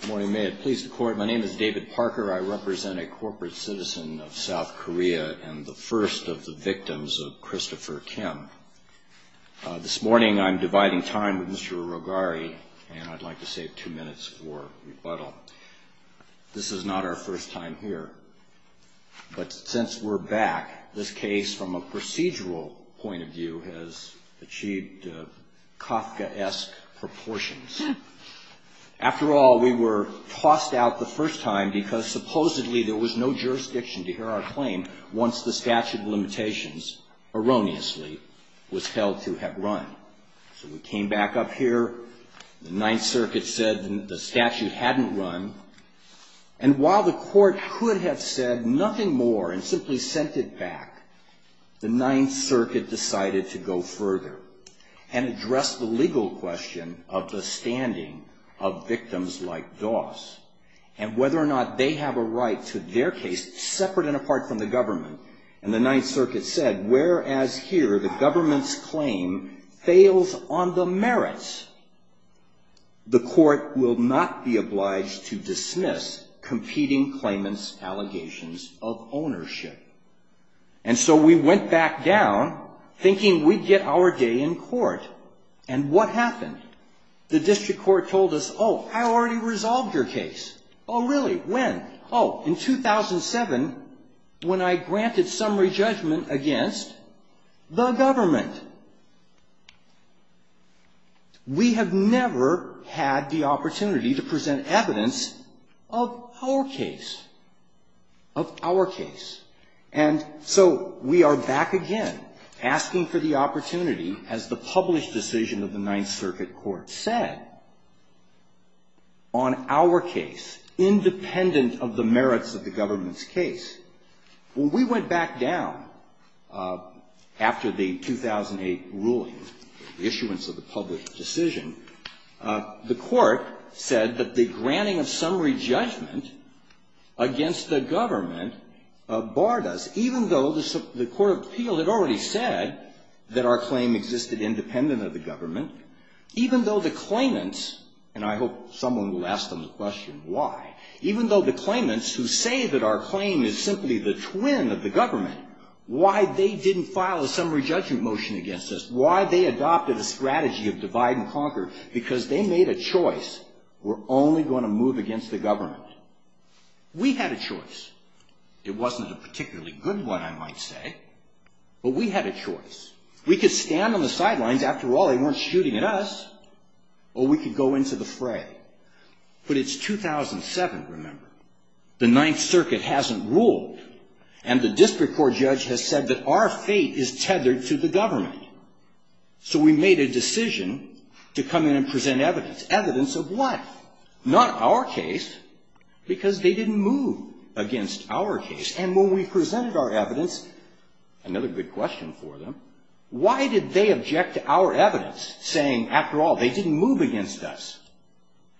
Good morning. May it please the Court, my name is David Parker. I represent a corporate citizen of South Korea and the first of the victims of Christopher Kim. This morning I'm dividing time with Mr. Urogari and I'd like to save two minutes for rebuttal. This is not our first time here, but since we're back, this case from a procedural point of view has achieved Kafka-esque proportions. After all, we were tossed out the first time because supposedly there was no jurisdiction to hear our claim once the statute of limitations, erroneously, was held to have run. So we came back up here, the Ninth Circuit said the statute hadn't run, and while the Court could have said nothing more and simply sent it back, the Ninth Circuit decided to go further and address the legal question of the standing of victims like Das, and whether or not they have a right to their case separate and apart from the government. And the Ninth Circuit said, whereas here the government's claim fails on the merits, the Court will not be obliged to dismiss competing claimants' allegations of ownership. And so we went back down thinking we'd get our day in court. And what happened? The District Court told us, oh, I already resolved your case. Oh, really? When? Oh, in 2007, when I granted summary judgment against the government. We have never had the opportunity to present evidence of our case, of our case. And so we are back again asking for the opportunity, as the published decision of the Ninth Circuit Court said, on our case, independent of the merits of the government's case. When we went back down after the 2008 ruling, the issuance of the published decision, the Court said that the granting of summary judgment against the government barred us, even though the Court of Appeal had already said that our claim existed independent of the government, even though the claimants, and I hope someone will ask them the question why, even though the claimants who say that our claim is simply the twin of the government, why they didn't file a summary judgment motion against us, why they adopted a strategy of divide and conquer, because they made a choice. We're only going to move against the government. We had a choice. It wasn't a particularly good one, I might say, but we had a choice. We could stand on the sidelines. After all, they weren't shooting at us. Or we could go into the fray. But it's 2007, remember. The Ninth Circuit hasn't ruled, and the district court judge has said that our fate is tethered to the government. So we made a decision to come in and present evidence. Evidence of what? Not our case, because they didn't move against our case. And when we presented our evidence, another good question for them, why did they object to our evidence, saying, after all, they didn't move against us?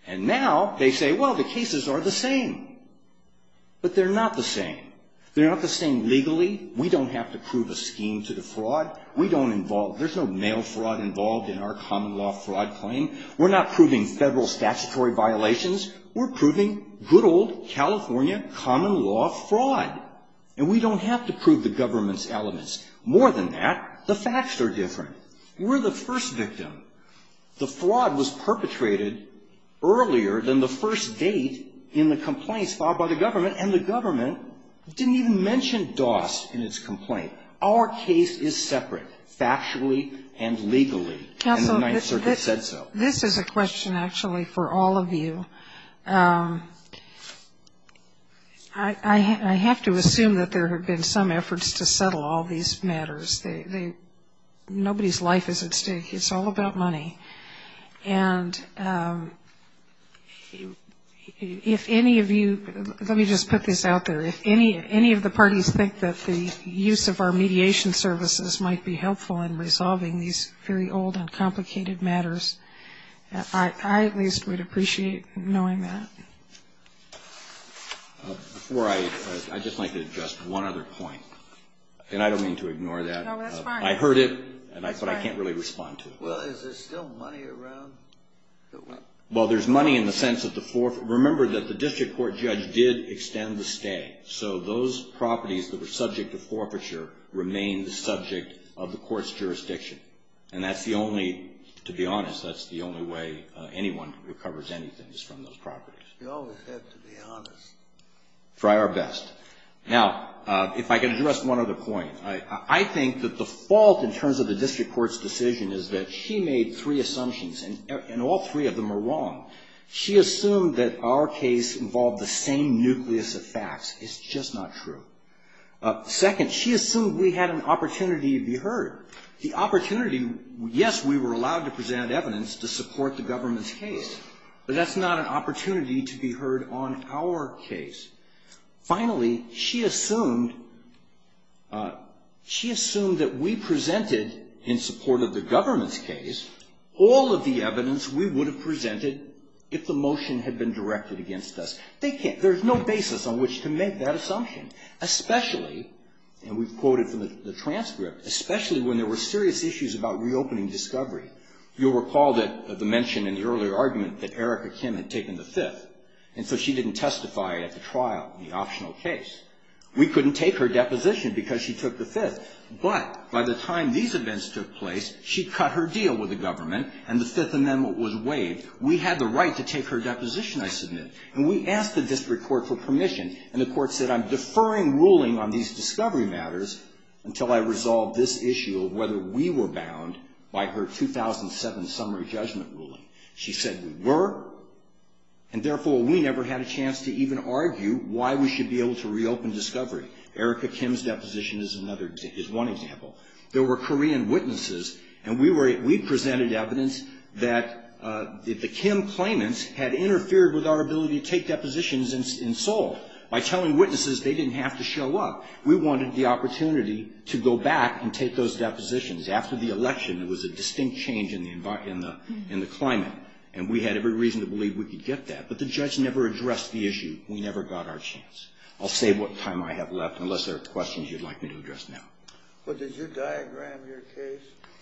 And now they say, well, the cases are the same. But they're not the same. They're not the same legally. We don't have to prove a scheme to defraud. We don't involve, there's no mail fraud involved in our common law fraud claim. We're not proving federal statutory violations. We're proving good old California common law fraud. And we don't have to prove the government's elements. More than that, the facts are different. We're the first victim. The fraud was perpetrated earlier than the first date in the complaints filed by the government, and the government didn't even mention DOS in its complaint. Our case is separate factually and legally, and the Ninth Circuit said so. Counsel, this is a question actually for all of you. I have to assume that there have been some efforts to settle all these matters. Nobody's life is at stake. It's all about money. And if any of you, let me just put this out there. If any of the parties think that the use of our mediation services might be helpful in resolving these very old and complicated matters, I at least would appreciate knowing that. Before I, I'd just like to address one other point. And I don't mean to ignore that. No, that's fine. I heard it, but I can't really respond to it. Well, is there still money around? Well, there's money in the sense of the forfeiture. Remember that the district court judge did extend the stay. So those properties that were subject to forfeiture remain the subject of the court's jurisdiction. And that's the only, to be honest, that's the only way anyone recovers anything is from those properties. You always have to be honest. Try our best. Now, if I could address one other point. I think that the fault in terms of the district court's decision is that she made three assumptions, and all three of them are wrong. She assumed that our case involved the same nucleus of facts. It's just not true. Second, she assumed we had an opportunity to be heard. The opportunity, yes, we were allowed to present evidence to support the government's case, but that's not an opportunity to be heard on our case. Finally, she assumed, she assumed that we presented, in support of the government's case, all of the evidence we would have presented if the motion had been directed against us. They can't, there's no basis on which to make that assumption. Especially, and we've quoted from the transcript, especially when there were serious issues about reopening discovery. You'll recall that the mention in the earlier argument that Erica Kim had taken the fifth, and so she didn't testify at the trial, the optional case. We couldn't take her deposition because she took the fifth. But by the time these events took place, she cut her deal with the government, and the Fifth Amendment was waived. We had the right to take her deposition, I submit. And we asked the district court for permission. And the court said, I'm deferring ruling on these discovery matters until I resolve this issue of whether we were bound by her 2007 summary judgment ruling. She said we were, and therefore, we never had a chance to even argue why we should be able to reopen discovery. Erica Kim's deposition is another, is one example. There were Korean witnesses, and we were, we presented evidence that the Kim claimants had interfered with our ability to take depositions in Seoul by telling witnesses they didn't have to show up. We wanted the opportunity to go back and take those depositions. After the election, there was a distinct change in the climate, and we had every reason to believe we could get that. But the judge never addressed the issue. We never got our chance. I'll save what time I have left, unless there are questions you'd like me to address now. But did you diagram your case?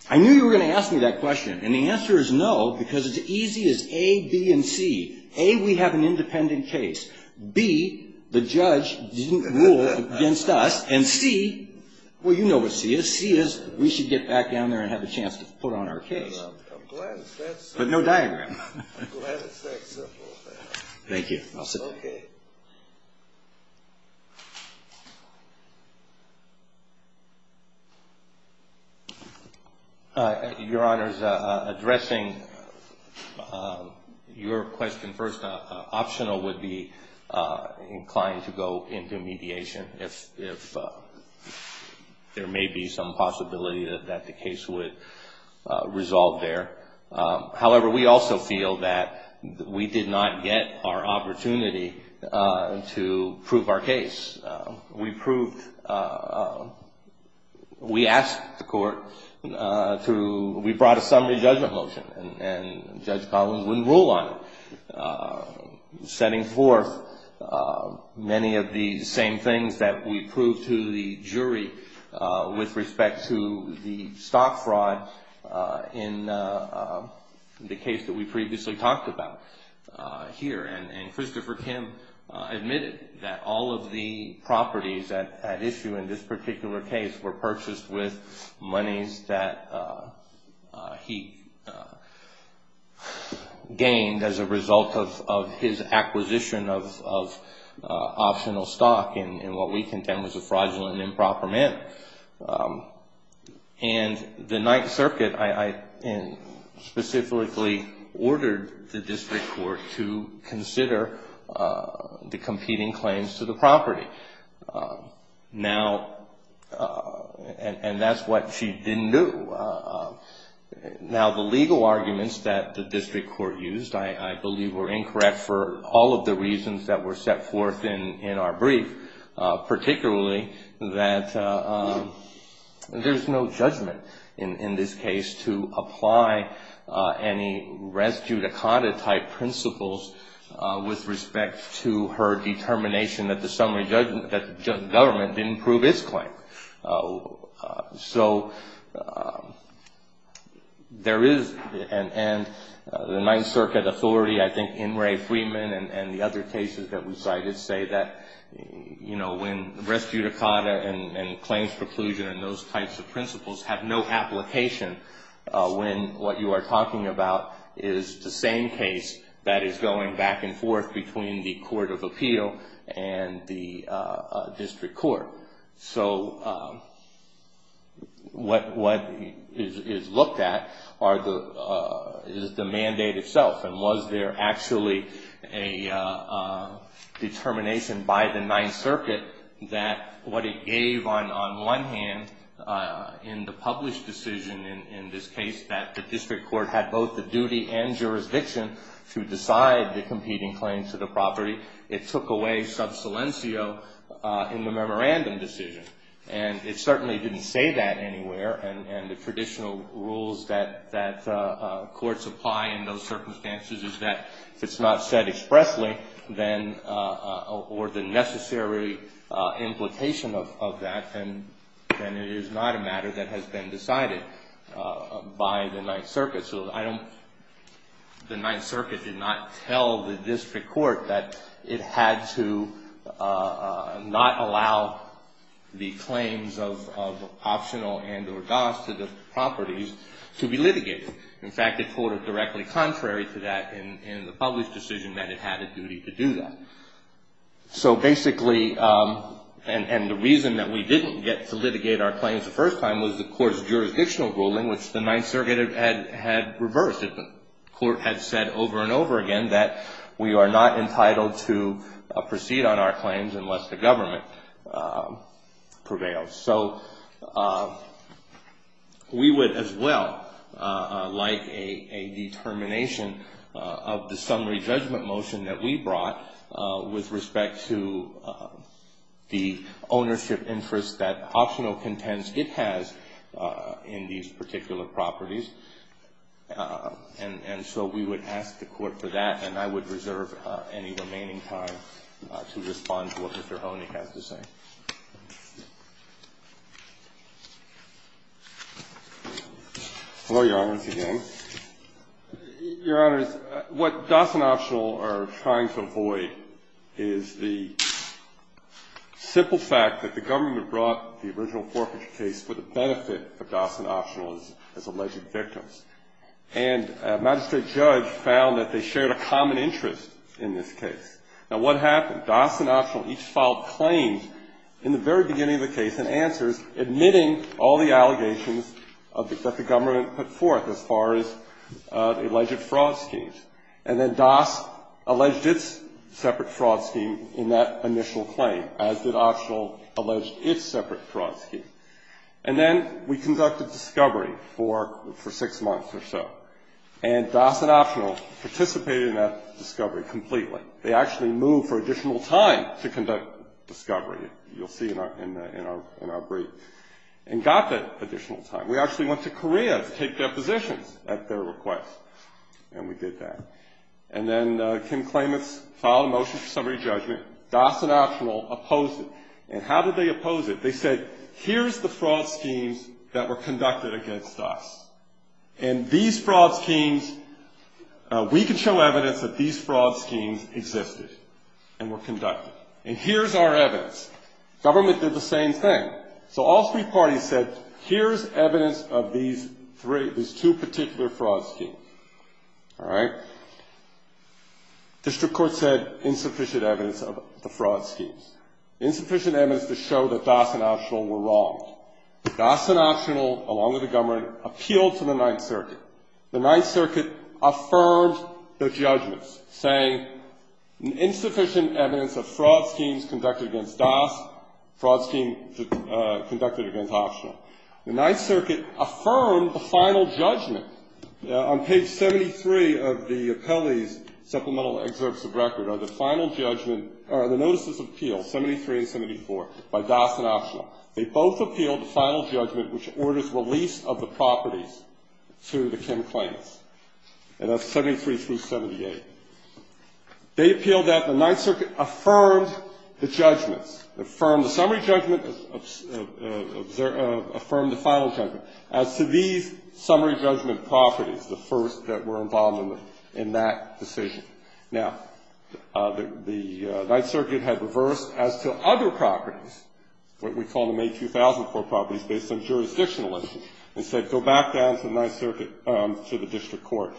I knew you were going to ask me that question. And the answer is no, because it's as easy as A, B, and C. A, we have an independent case. B, the judge didn't rule against us. And C, well, you know what C is. C is we should get back down there and have a chance to put on our case. I'm glad it's that simple. But no diagram. I'm glad it's that simple. Thank you. I'll sit down. Okay. Your Honor, addressing your question first, optional would be inclined to go into mediation if there may be some possibility that the case would resolve there. However, we also feel that we did not get our opportunity to prove our case. We proved, we asked the court to, we brought a summary judgment motion. And Judge Collins wouldn't rule on it, setting forth many of the same things that we proved to the jury with respect to the stock fraud in the case that we previously talked about here. And Christopher Kim admitted that all of the properties at issue in this particular case were purchased with monies that he gained as a result of his acquisition of optional stock in what we condemn as a fraudulent improper mint. And the Ninth Circuit specifically ordered the district court to consider the competing claims to the property. Now, and that's what she didn't do. Now, the legal arguments that the district court used I believe were incorrect for all of the reasons that were set forth in our brief, particularly that there's no judgment in this case to apply any res judicata type principles with respect to her determination that the summary judgment, that the government didn't prove its claim. So there is, and the Ninth Circuit authority, I think, in Ray Freeman and the other cases that we cited say that, you know, when res judicata and claims preclusion and those types of principles have no application when what you are talking about is the same case that is going back and forth between the court of appeal and the district court. So what is looked at is the mandate itself and was there actually a determination by the Ninth Circuit that what it gave on one hand in the published decision in this case that the district court had both the duty and jurisdiction to decide the competing claims to the property. It took away sub silencio in the memorandum decision. And it certainly didn't say that anywhere. And the traditional rules that courts apply in those circumstances is that if it's not said expressly or the necessary implication of that, then it is not a matter that has been decided by the Ninth Circuit. So I don't, the Ninth Circuit did not tell the district court that it had to not allow the claims of optional and or dos to the properties to be litigated. In fact, it quoted directly contrary to that in the published decision that it had a duty to do that. So basically, and the reason that we didn't get to litigate our claims the first time was the court's jurisdictional ruling, which the court had reversed. The court had said over and over again that we are not entitled to proceed on our claims unless the government prevails. So we would as well like a determination of the summary judgment motion that we brought with respect to the ownership interest that it has in these particular properties. And so we would ask the court for that. And I would reserve any remaining time to respond to what Mr. Honig has to say. Hello, Your Honors, again. Your Honors, what Doss and Optional are trying to avoid is the simple fact that the government brought the original forfeiture case for the benefit of Doss and Optional as alleged victims. And a magistrate judge found that they shared a common interest in this case. Now, what happened? Doss and Optional each filed claims in the very beginning of the case and answers, admitting all the allegations that the government put forth as far as alleged fraud schemes. And then Doss alleged its separate fraud scheme in that initial claim, as did Optional allege its separate fraud scheme. And then we conducted discovery for six months or so. And Doss and Optional participated in that discovery completely. They actually moved for additional time to conduct discovery, you'll see in our brief, and got that additional time. We actually went to Korea to take their positions at their request, and we did that. And then Kim Klamath filed a motion for summary judgment. Doss and Optional opposed it. And how did they oppose it? They said, here's the fraud schemes that were conducted against Doss. And these fraud schemes, we can show evidence that these fraud schemes existed and were conducted. And here's our evidence. Government did the same thing. So all three parties said, here's evidence of these three, these two particular fraud schemes. All right? District Court said insufficient evidence of the fraud schemes. Insufficient evidence to show that Doss and Optional were wrong. Doss and Optional, along with the government, appealed to the Ninth Circuit. The Ninth Circuit affirmed their judgments, saying insufficient evidence of fraud schemes conducted against Doss, fraud schemes conducted against Optional. The Ninth Circuit affirmed the final judgment. On page 73 of the appellee's supplemental excerpts of record are the final judgment, or the notices of appeal, 73 and 74, by Doss and Optional. They both appealed the final judgment, which orders release of the properties to the Kim claims. And that's 73 through 78. They appealed that. The Ninth Circuit affirmed the judgments, affirmed the summary judgment, affirmed the final judgment, as to these summary judgment properties, the first that were involved in that decision. Now, the Ninth Circuit had reversed as to other properties, what we call the May 2004 properties, based on jurisdictional issues, and said go back down to the Ninth Circuit, to the district court,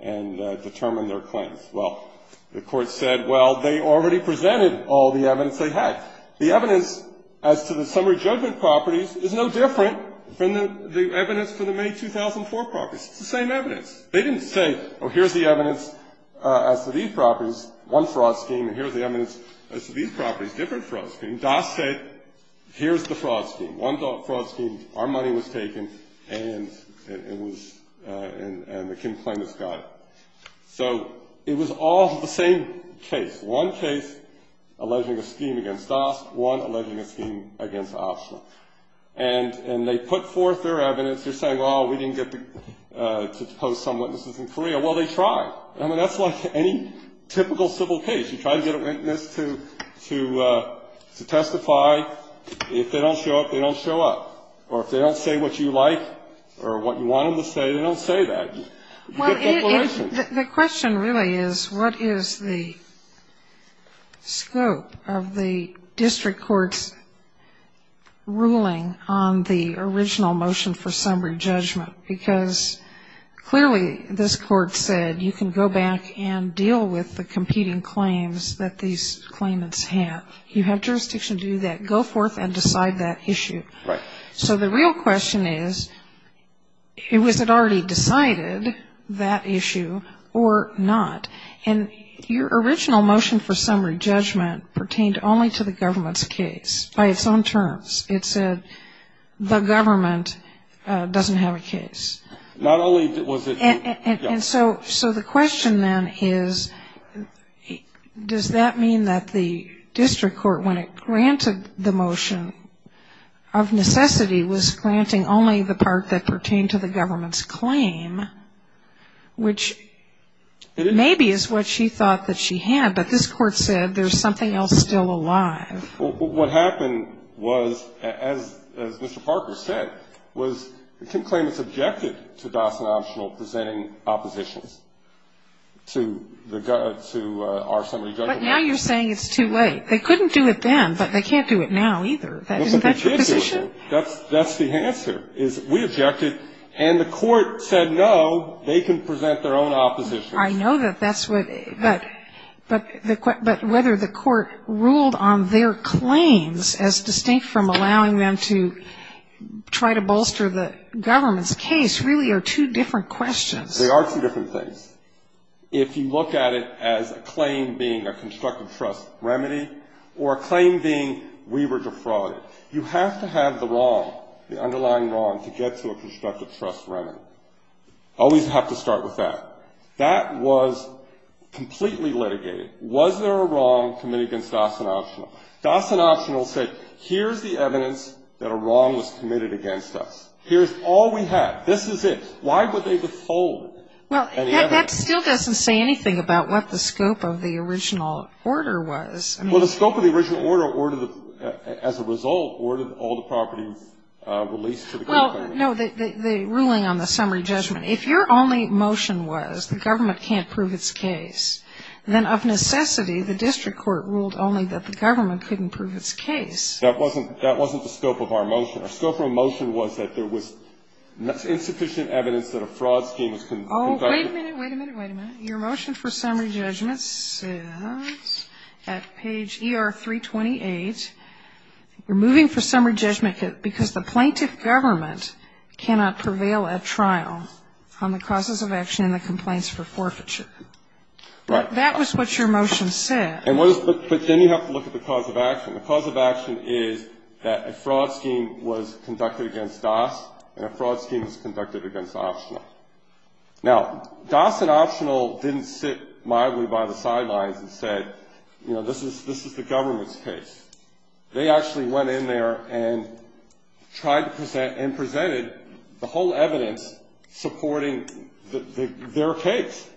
and determine their claims. Well, the court said, well, they already presented all the evidence they had. The evidence as to the summary judgment properties is no different from the evidence for the May 2004 properties. It's the same evidence. They didn't say, oh, here's the evidence as to these properties, one fraud scheme, and here's the evidence as to these properties, different fraud schemes. Doss said, here's the fraud scheme, one fraud scheme, our money was taken, and it was, and the Kim claimants got it. So it was all the same case. One case alleging a scheme against Doss, one alleging a scheme against Optional. And they put forth their evidence. They're saying, well, we didn't get to post some witnesses in Korea. Well, they tried. I mean, that's like any typical civil case. You try to get a witness to testify. If they don't show up, they don't show up. Or if they don't say what you like or what you want them to say, they don't say that. You get that question. The question really is what is the scope of the district court's ruling on the original motion for summary judgment? Because clearly this court said you can go back and deal with the competing claims that these claimants have. You have jurisdiction to do that. Go forth and decide that issue. Right. So the real question is, was it already decided, that issue, or not? And your original motion for summary judgment pertained only to the government's case, by its own terms. It said the government doesn't have a case. Not only was it, yeah. And so the question then is, does that mean that the district court, when it granted the motion of necessity, was granting only the part that pertained to the government's claim, which maybe is what she thought that she had, but this court said there's something else still alive. What happened was, as Mr. Parker said, was the claimants objected to Dawson Optional presenting oppositions to our summary judgment. But now you're saying it's too late. They couldn't do it then, but they can't do it now, either. Isn't that your position? That's the answer, is we objected, and the court said, no, they can present their own oppositions. I know that that's what, but whether the court ruled on their claims, as distinct from allowing them to try to bolster the government's case, really are two different questions. They are two different things. If you look at it as a claim being a constructive trust remedy, or a claim being we were defrauded, you have to have the wrong, the underlying wrong, to get to a constructive trust remedy. Always have to start with that. That was completely litigated. Was there a wrong committed against Dawson Optional? Dawson Optional said, here's the evidence that a wrong was committed against us. Here's all we have. This is it. Why would they withhold any evidence? Well, that still doesn't say anything about what the scope of the original order was. Well, the scope of the original order, as a result, ordered all the properties released to the claimant. Well, no, the ruling on the summary judgment. If your only motion was the government can't prove its case, then of necessity the district court ruled only that the government couldn't prove its case. That wasn't the scope of our motion. Our scope of our motion was that there was insufficient evidence that a fraud scheme was conducted. Oh, wait a minute, wait a minute, wait a minute. Your motion for summary judgment says, at page ER-328, you're moving for summary judgment because the plaintiff government cannot prevail at trial on the causes of action and the complaints for forfeiture. Right. That was what your motion said. But then you have to look at the cause of action. The cause of action is that a fraud scheme was conducted against Dawson and a fraud scheme was conducted against Optional. Now, Dawson Optional didn't sit mildly by the sidelines and say, you know, this is the government's case. They actually went in there and tried to present and presented the whole evidence supporting their case.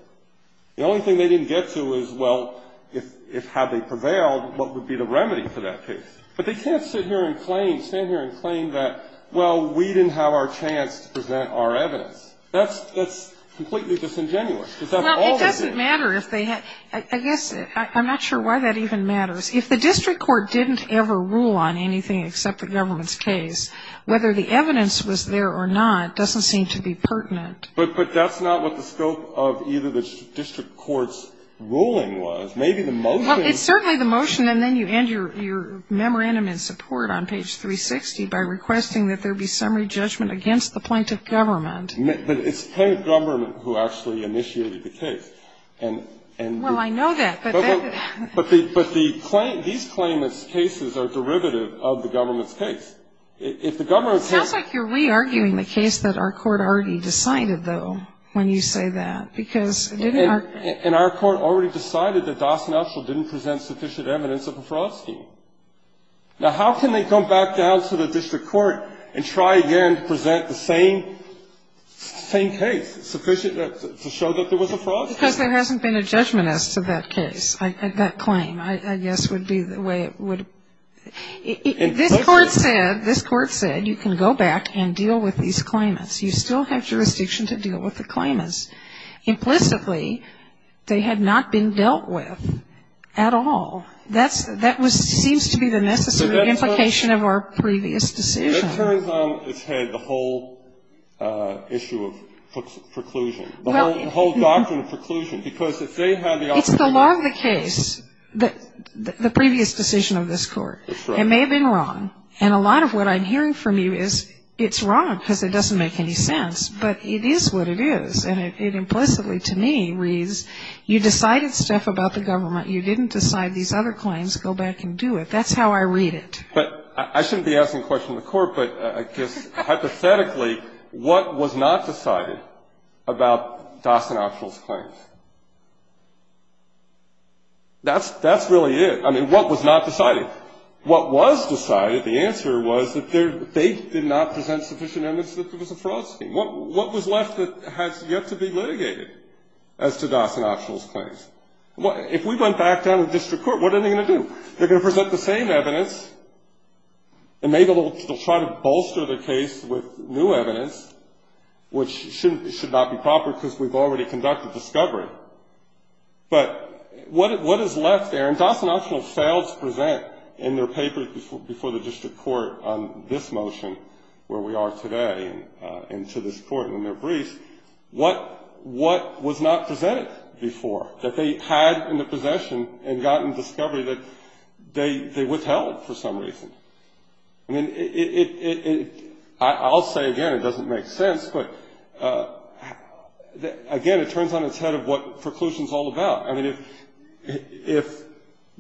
The only thing they didn't get to is, well, if had they prevailed, what would be the remedy for that case? But they can't sit here and claim, stand here and claim that, well, we didn't have our chance to present our evidence. That's completely disingenuous. Well, it doesn't matter if they had. I guess I'm not sure why that even matters. If the district court didn't ever rule on anything except the government's case, whether the evidence was there or not doesn't seem to be pertinent. But that's not what the scope of either the district court's ruling was. Maybe the motion was. Well, it's certainly the motion. And then you end your memorandum in support on page 360 by requesting that there be summary judgment against the plaintiff government. But it's plaintiff government who actually initiated the case. Well, I know that. But these claimant's cases are derivative of the government's case. If the government's case ---- It sounds like you're re-arguing the case that our Court already decided, though, when you say that. Because didn't our ---- And our Court already decided that Dost and Elschel didn't present sufficient evidence of a fraud scheme. Now, how can they come back down to the district court and try again to present the same case, sufficient to show that there was a fraud scheme? Because there hasn't been a judgment as to that case. That claim, I guess, would be the way it would ---- This Court said you can go back and deal with these claimants. You still have jurisdiction to deal with the claimants. Implicitly, they had not been dealt with at all. That seems to be the necessary implication of our previous decision. It turns out it's had the whole issue of preclusion, the whole doctrine of preclusion because if they had the opportunity ---- It's the law of the case, the previous decision of this Court. That's right. It may have been wrong. And a lot of what I'm hearing from you is it's wrong because it doesn't make any sense. But it is what it is. And it implicitly, to me, reads you decided stuff about the government. You didn't decide these other claims. Go back and do it. That's how I read it. But I shouldn't be asking questions of the Court, but I guess hypothetically, what was not decided about Dawson Optional's claims? That's really it. I mean, what was not decided? What was decided, the answer was that they did not present sufficient evidence that there was a fraud scheme. What was left that has yet to be litigated as to Dawson Optional's claims? If we went back down to district court, what are they going to do? They're going to present the same evidence, and maybe they'll try to bolster the case with new evidence, which should not be proper because we've already conducted discovery. But what is left there? And Dawson Optional fails to present in their papers before the district court on this motion, where we are today, and to this court in their briefs, what was not presented before, that they had in the possession and gotten discovery that they withheld for some reason. I mean, I'll say again, it doesn't make sense, but, again, it turns on its head of what preclusion is all about. I mean, if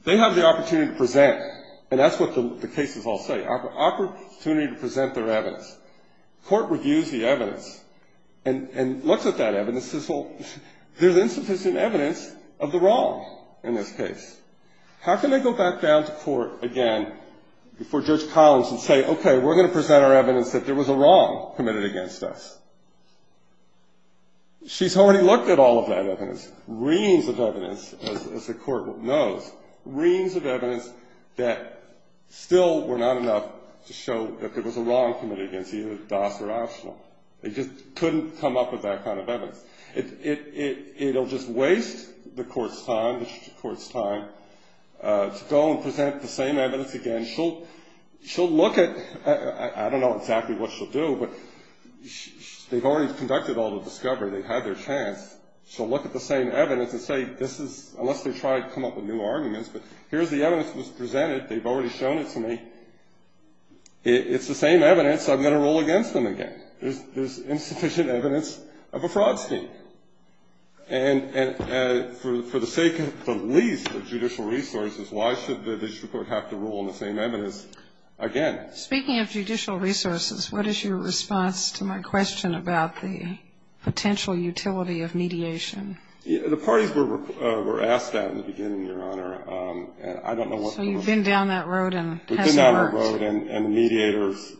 they have the opportunity to present, and that's what the cases all say, opportunity to present their evidence, court reviews the evidence and looks at that evidence, says, well, there's insufficient evidence of the wrong in this case. How can they go back down to court again before Judge Collins and say, okay, we're going to present our evidence that there was a wrong committed against us? She's already looked at all of that evidence, reams of evidence, as the court knows, reams of evidence that still were not enough to show that there was a wrong committed against either Dawson or Optional. It'll just waste the court's time to go and present the same evidence again. She'll look at, I don't know exactly what she'll do, but they've already conducted all the discovery. They've had their chance. She'll look at the same evidence and say, this is, unless they try to come up with new arguments, but here's the evidence that was presented. They've already shown it to me. It's the same evidence. I'm going to rule against them again. There's insufficient evidence of a fraud scheme. And for the sake of the least of judicial resources, why should the district court have to rule on the same evidence again? Speaking of judicial resources, what is your response to my question about the potential utility of mediation? The parties were asked that in the beginning, Your Honor, and I don't know what the rules are. So you've been down that road and it hasn't worked. And the mediator's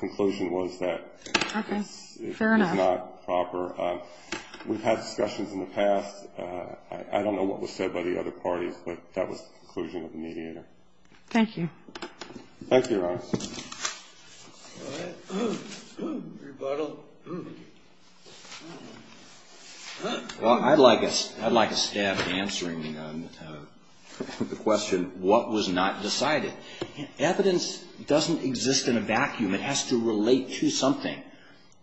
conclusion was that it's not proper. We've had discussions in the past. I don't know what was said by the other parties, but that was the conclusion of the mediator. Thank you. Thank you, Your Honor. Well, I'd like a staff answering the question, what was not decided? Evidence doesn't exist in a vacuum. It has to relate to something.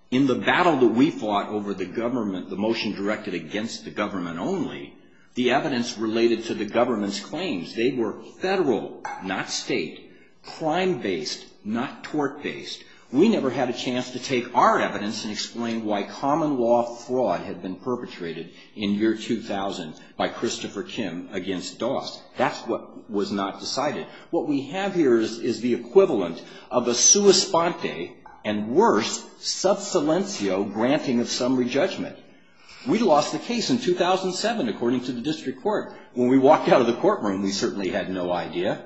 In the battle that we fought over the government, the motion directed against the government only, the evidence related to the government's claims. They were federal, not state, crime-based, not tort-based. We never had a chance to take our evidence and explain why common law fraud had been perpetrated in year 2000 by Christopher Kim against Doss. That's what was not decided. What we have here is the equivalent of a sua sponte, and worse, sub silencio granting of summary judgment. We lost the case in 2007, according to the district court. When we walked out of the courtroom, we certainly had no idea.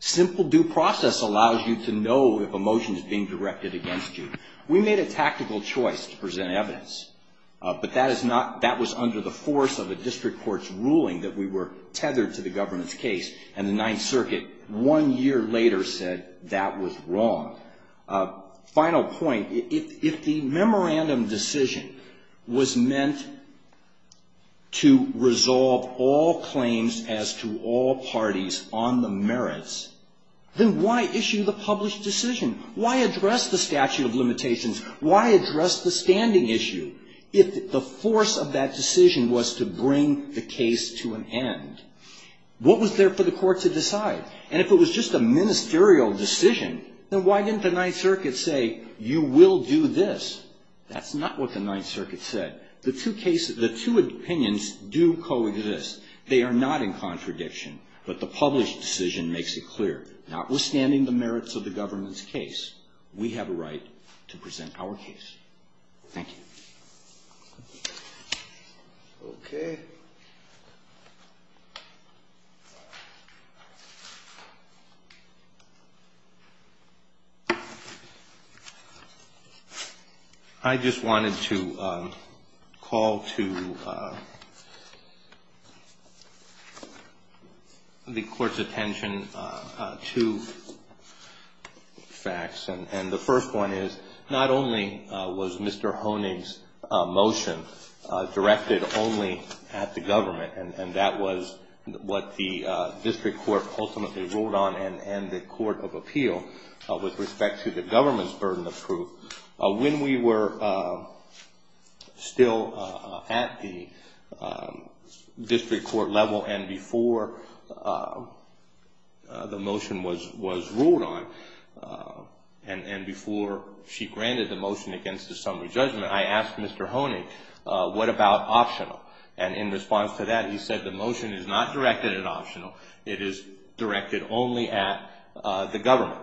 Simple due process allows you to know if a motion is being directed against you. We made a tactical choice to present evidence. But that is not, that was under the force of a district court's ruling that we were tethered to the government's case. And the Ninth Circuit, one year later, said that was wrong. Final point, if the memorandum decision was meant to resolve all claims as to all parties on the merits, then why issue the published decision? Why address the statute of limitations? Why address the standing issue? If the force of that decision was to bring the case to an end, what was there for the court to decide? And if it was just a ministerial decision, then why didn't the Ninth Circuit say, you will do this? That's not what the Ninth Circuit said. The two cases, the two opinions do coexist. They are not in contradiction. But the published decision makes it clear, notwithstanding the merits of the government's case, we have a right to present evidence. That is in our case. Thank you. Okay. I just wanted to call to the court's attention two facts. And the first one is, not only was Mr. Honig's motion directed only at the government, and that was what the district court ultimately ruled on, and the court of appeal with respect to the government's burden of proof. When we were still at the district court level, and before the motion was ruled on, and before she granted the motion against the summary judgment, I asked Mr. Honig, what about optional? And in response to that, he said, the motion is not directed at optional. It is directed only at the government.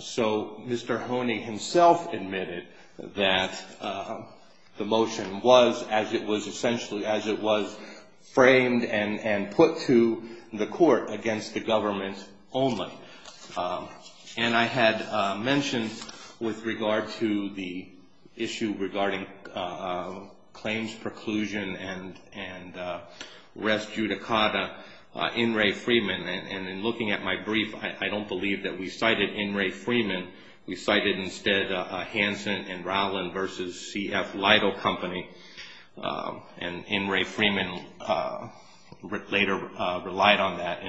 So Mr. Honig himself admitted that the motion was, as it was essentially, as it was framed and put to the court against the government only. And I had mentioned with regard to the issue regarding claims preclusion and res judicata in Ray Freeman. And in looking at my brief, I don't believe that we cited in Ray Freeman. We cited instead Hansen and Rowland versus C.F. Lido Company. And in Ray Freeman, Rick later relied on that.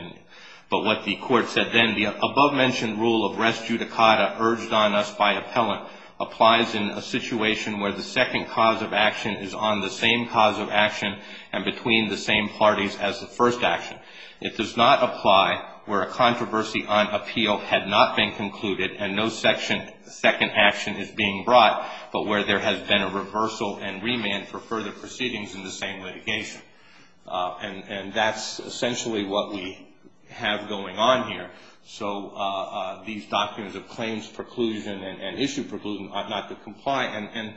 But what the court said then, the above-mentioned rule of res judicata urged on us by appellant applies in a situation where the second cause of action is on the same cause of action and between the same parties as the first action. It does not apply where a controversy on appeal had not been concluded and no second action is being brought, but where there has been a reversal and remand for further proceedings in the same litigation. And that's essentially what we have going on here. So these doctrines of claims preclusion and issue preclusion ought not to comply. And,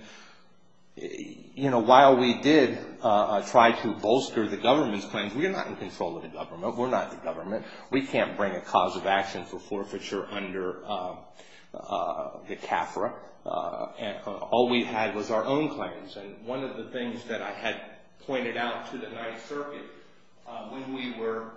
you know, while we did try to bolster the government's claims, we are not in control of the government. We're not the government. We can't bring a cause of action for forfeiture under the CAFRA. All we had was our own claims. And one of the things that I had pointed out to the Ninth Circuit when we were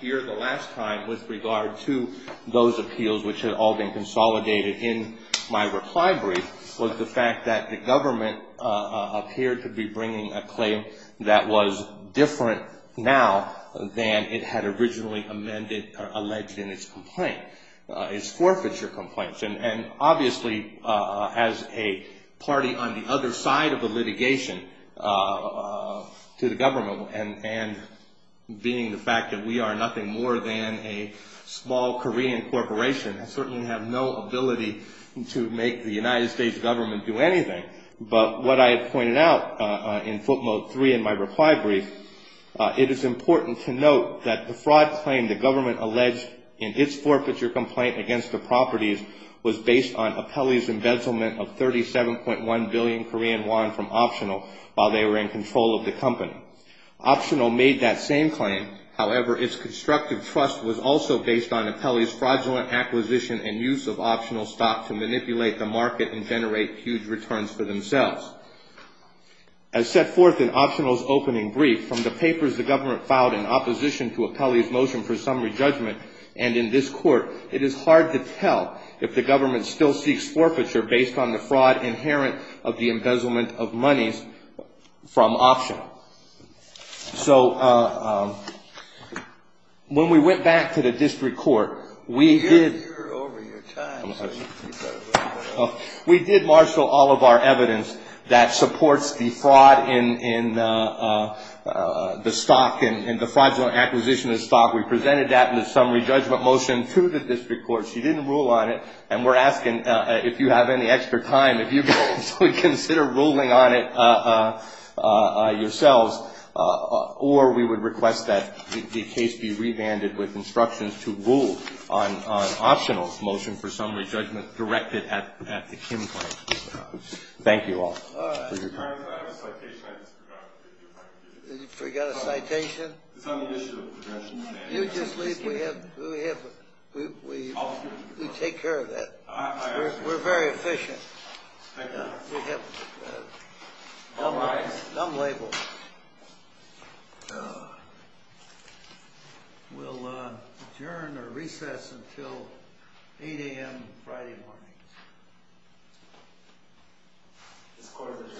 here the last time with regard to those appeals which had all been consolidated in my reply brief was the fact that the government appeared to be bringing a claim that was different now than it had originally amended or alleged in its complaint, its forfeiture complaints. And obviously as a party on the other side of the litigation to the government and being the fact that we are nothing more than a small Korean corporation, I certainly have no ability to make the United States government do anything. But what I had pointed out in footnote three in my reply brief, it is important to note that the fraud claim the government alleged in its forfeiture complaint against the properties was based on Apelli's embezzlement of 37.1 billion Korean won from Optional while they were in control of the company. Optional made that same claim. However, its constructive trust was also based on Apelli's fraudulent acquisition and use of Optional stock to manipulate the market and generate huge returns for themselves. As set forth in Optional's opening brief from the papers the government filed in opposition to Apelli's motion for summary judgment and in this court, it is hard to tell if the government still seeks forfeiture based on the fraud inherent of the embezzlement of monies from Optional. So when we went back to the district court, we did... that supports the fraud in the stock and the fraudulent acquisition of stock. We presented that in the summary judgment motion to the district court. She didn't rule on it, and we're asking if you have any extra time, if you could consider ruling on it yourselves, or we would request that the case be revanded with instructions to rule on Optional's motion for summary judgment directed at the Kim claim. Thank you all. All right. I have a citation. I just forgot. You forgot a citation? It's on the issue of progression. You just leave. We have... We take care of that. We're very efficient. Thank you. We have dumb labels. We'll adjourn or recess until 8 a.m. Friday morning. This court is adjourned. Thank you.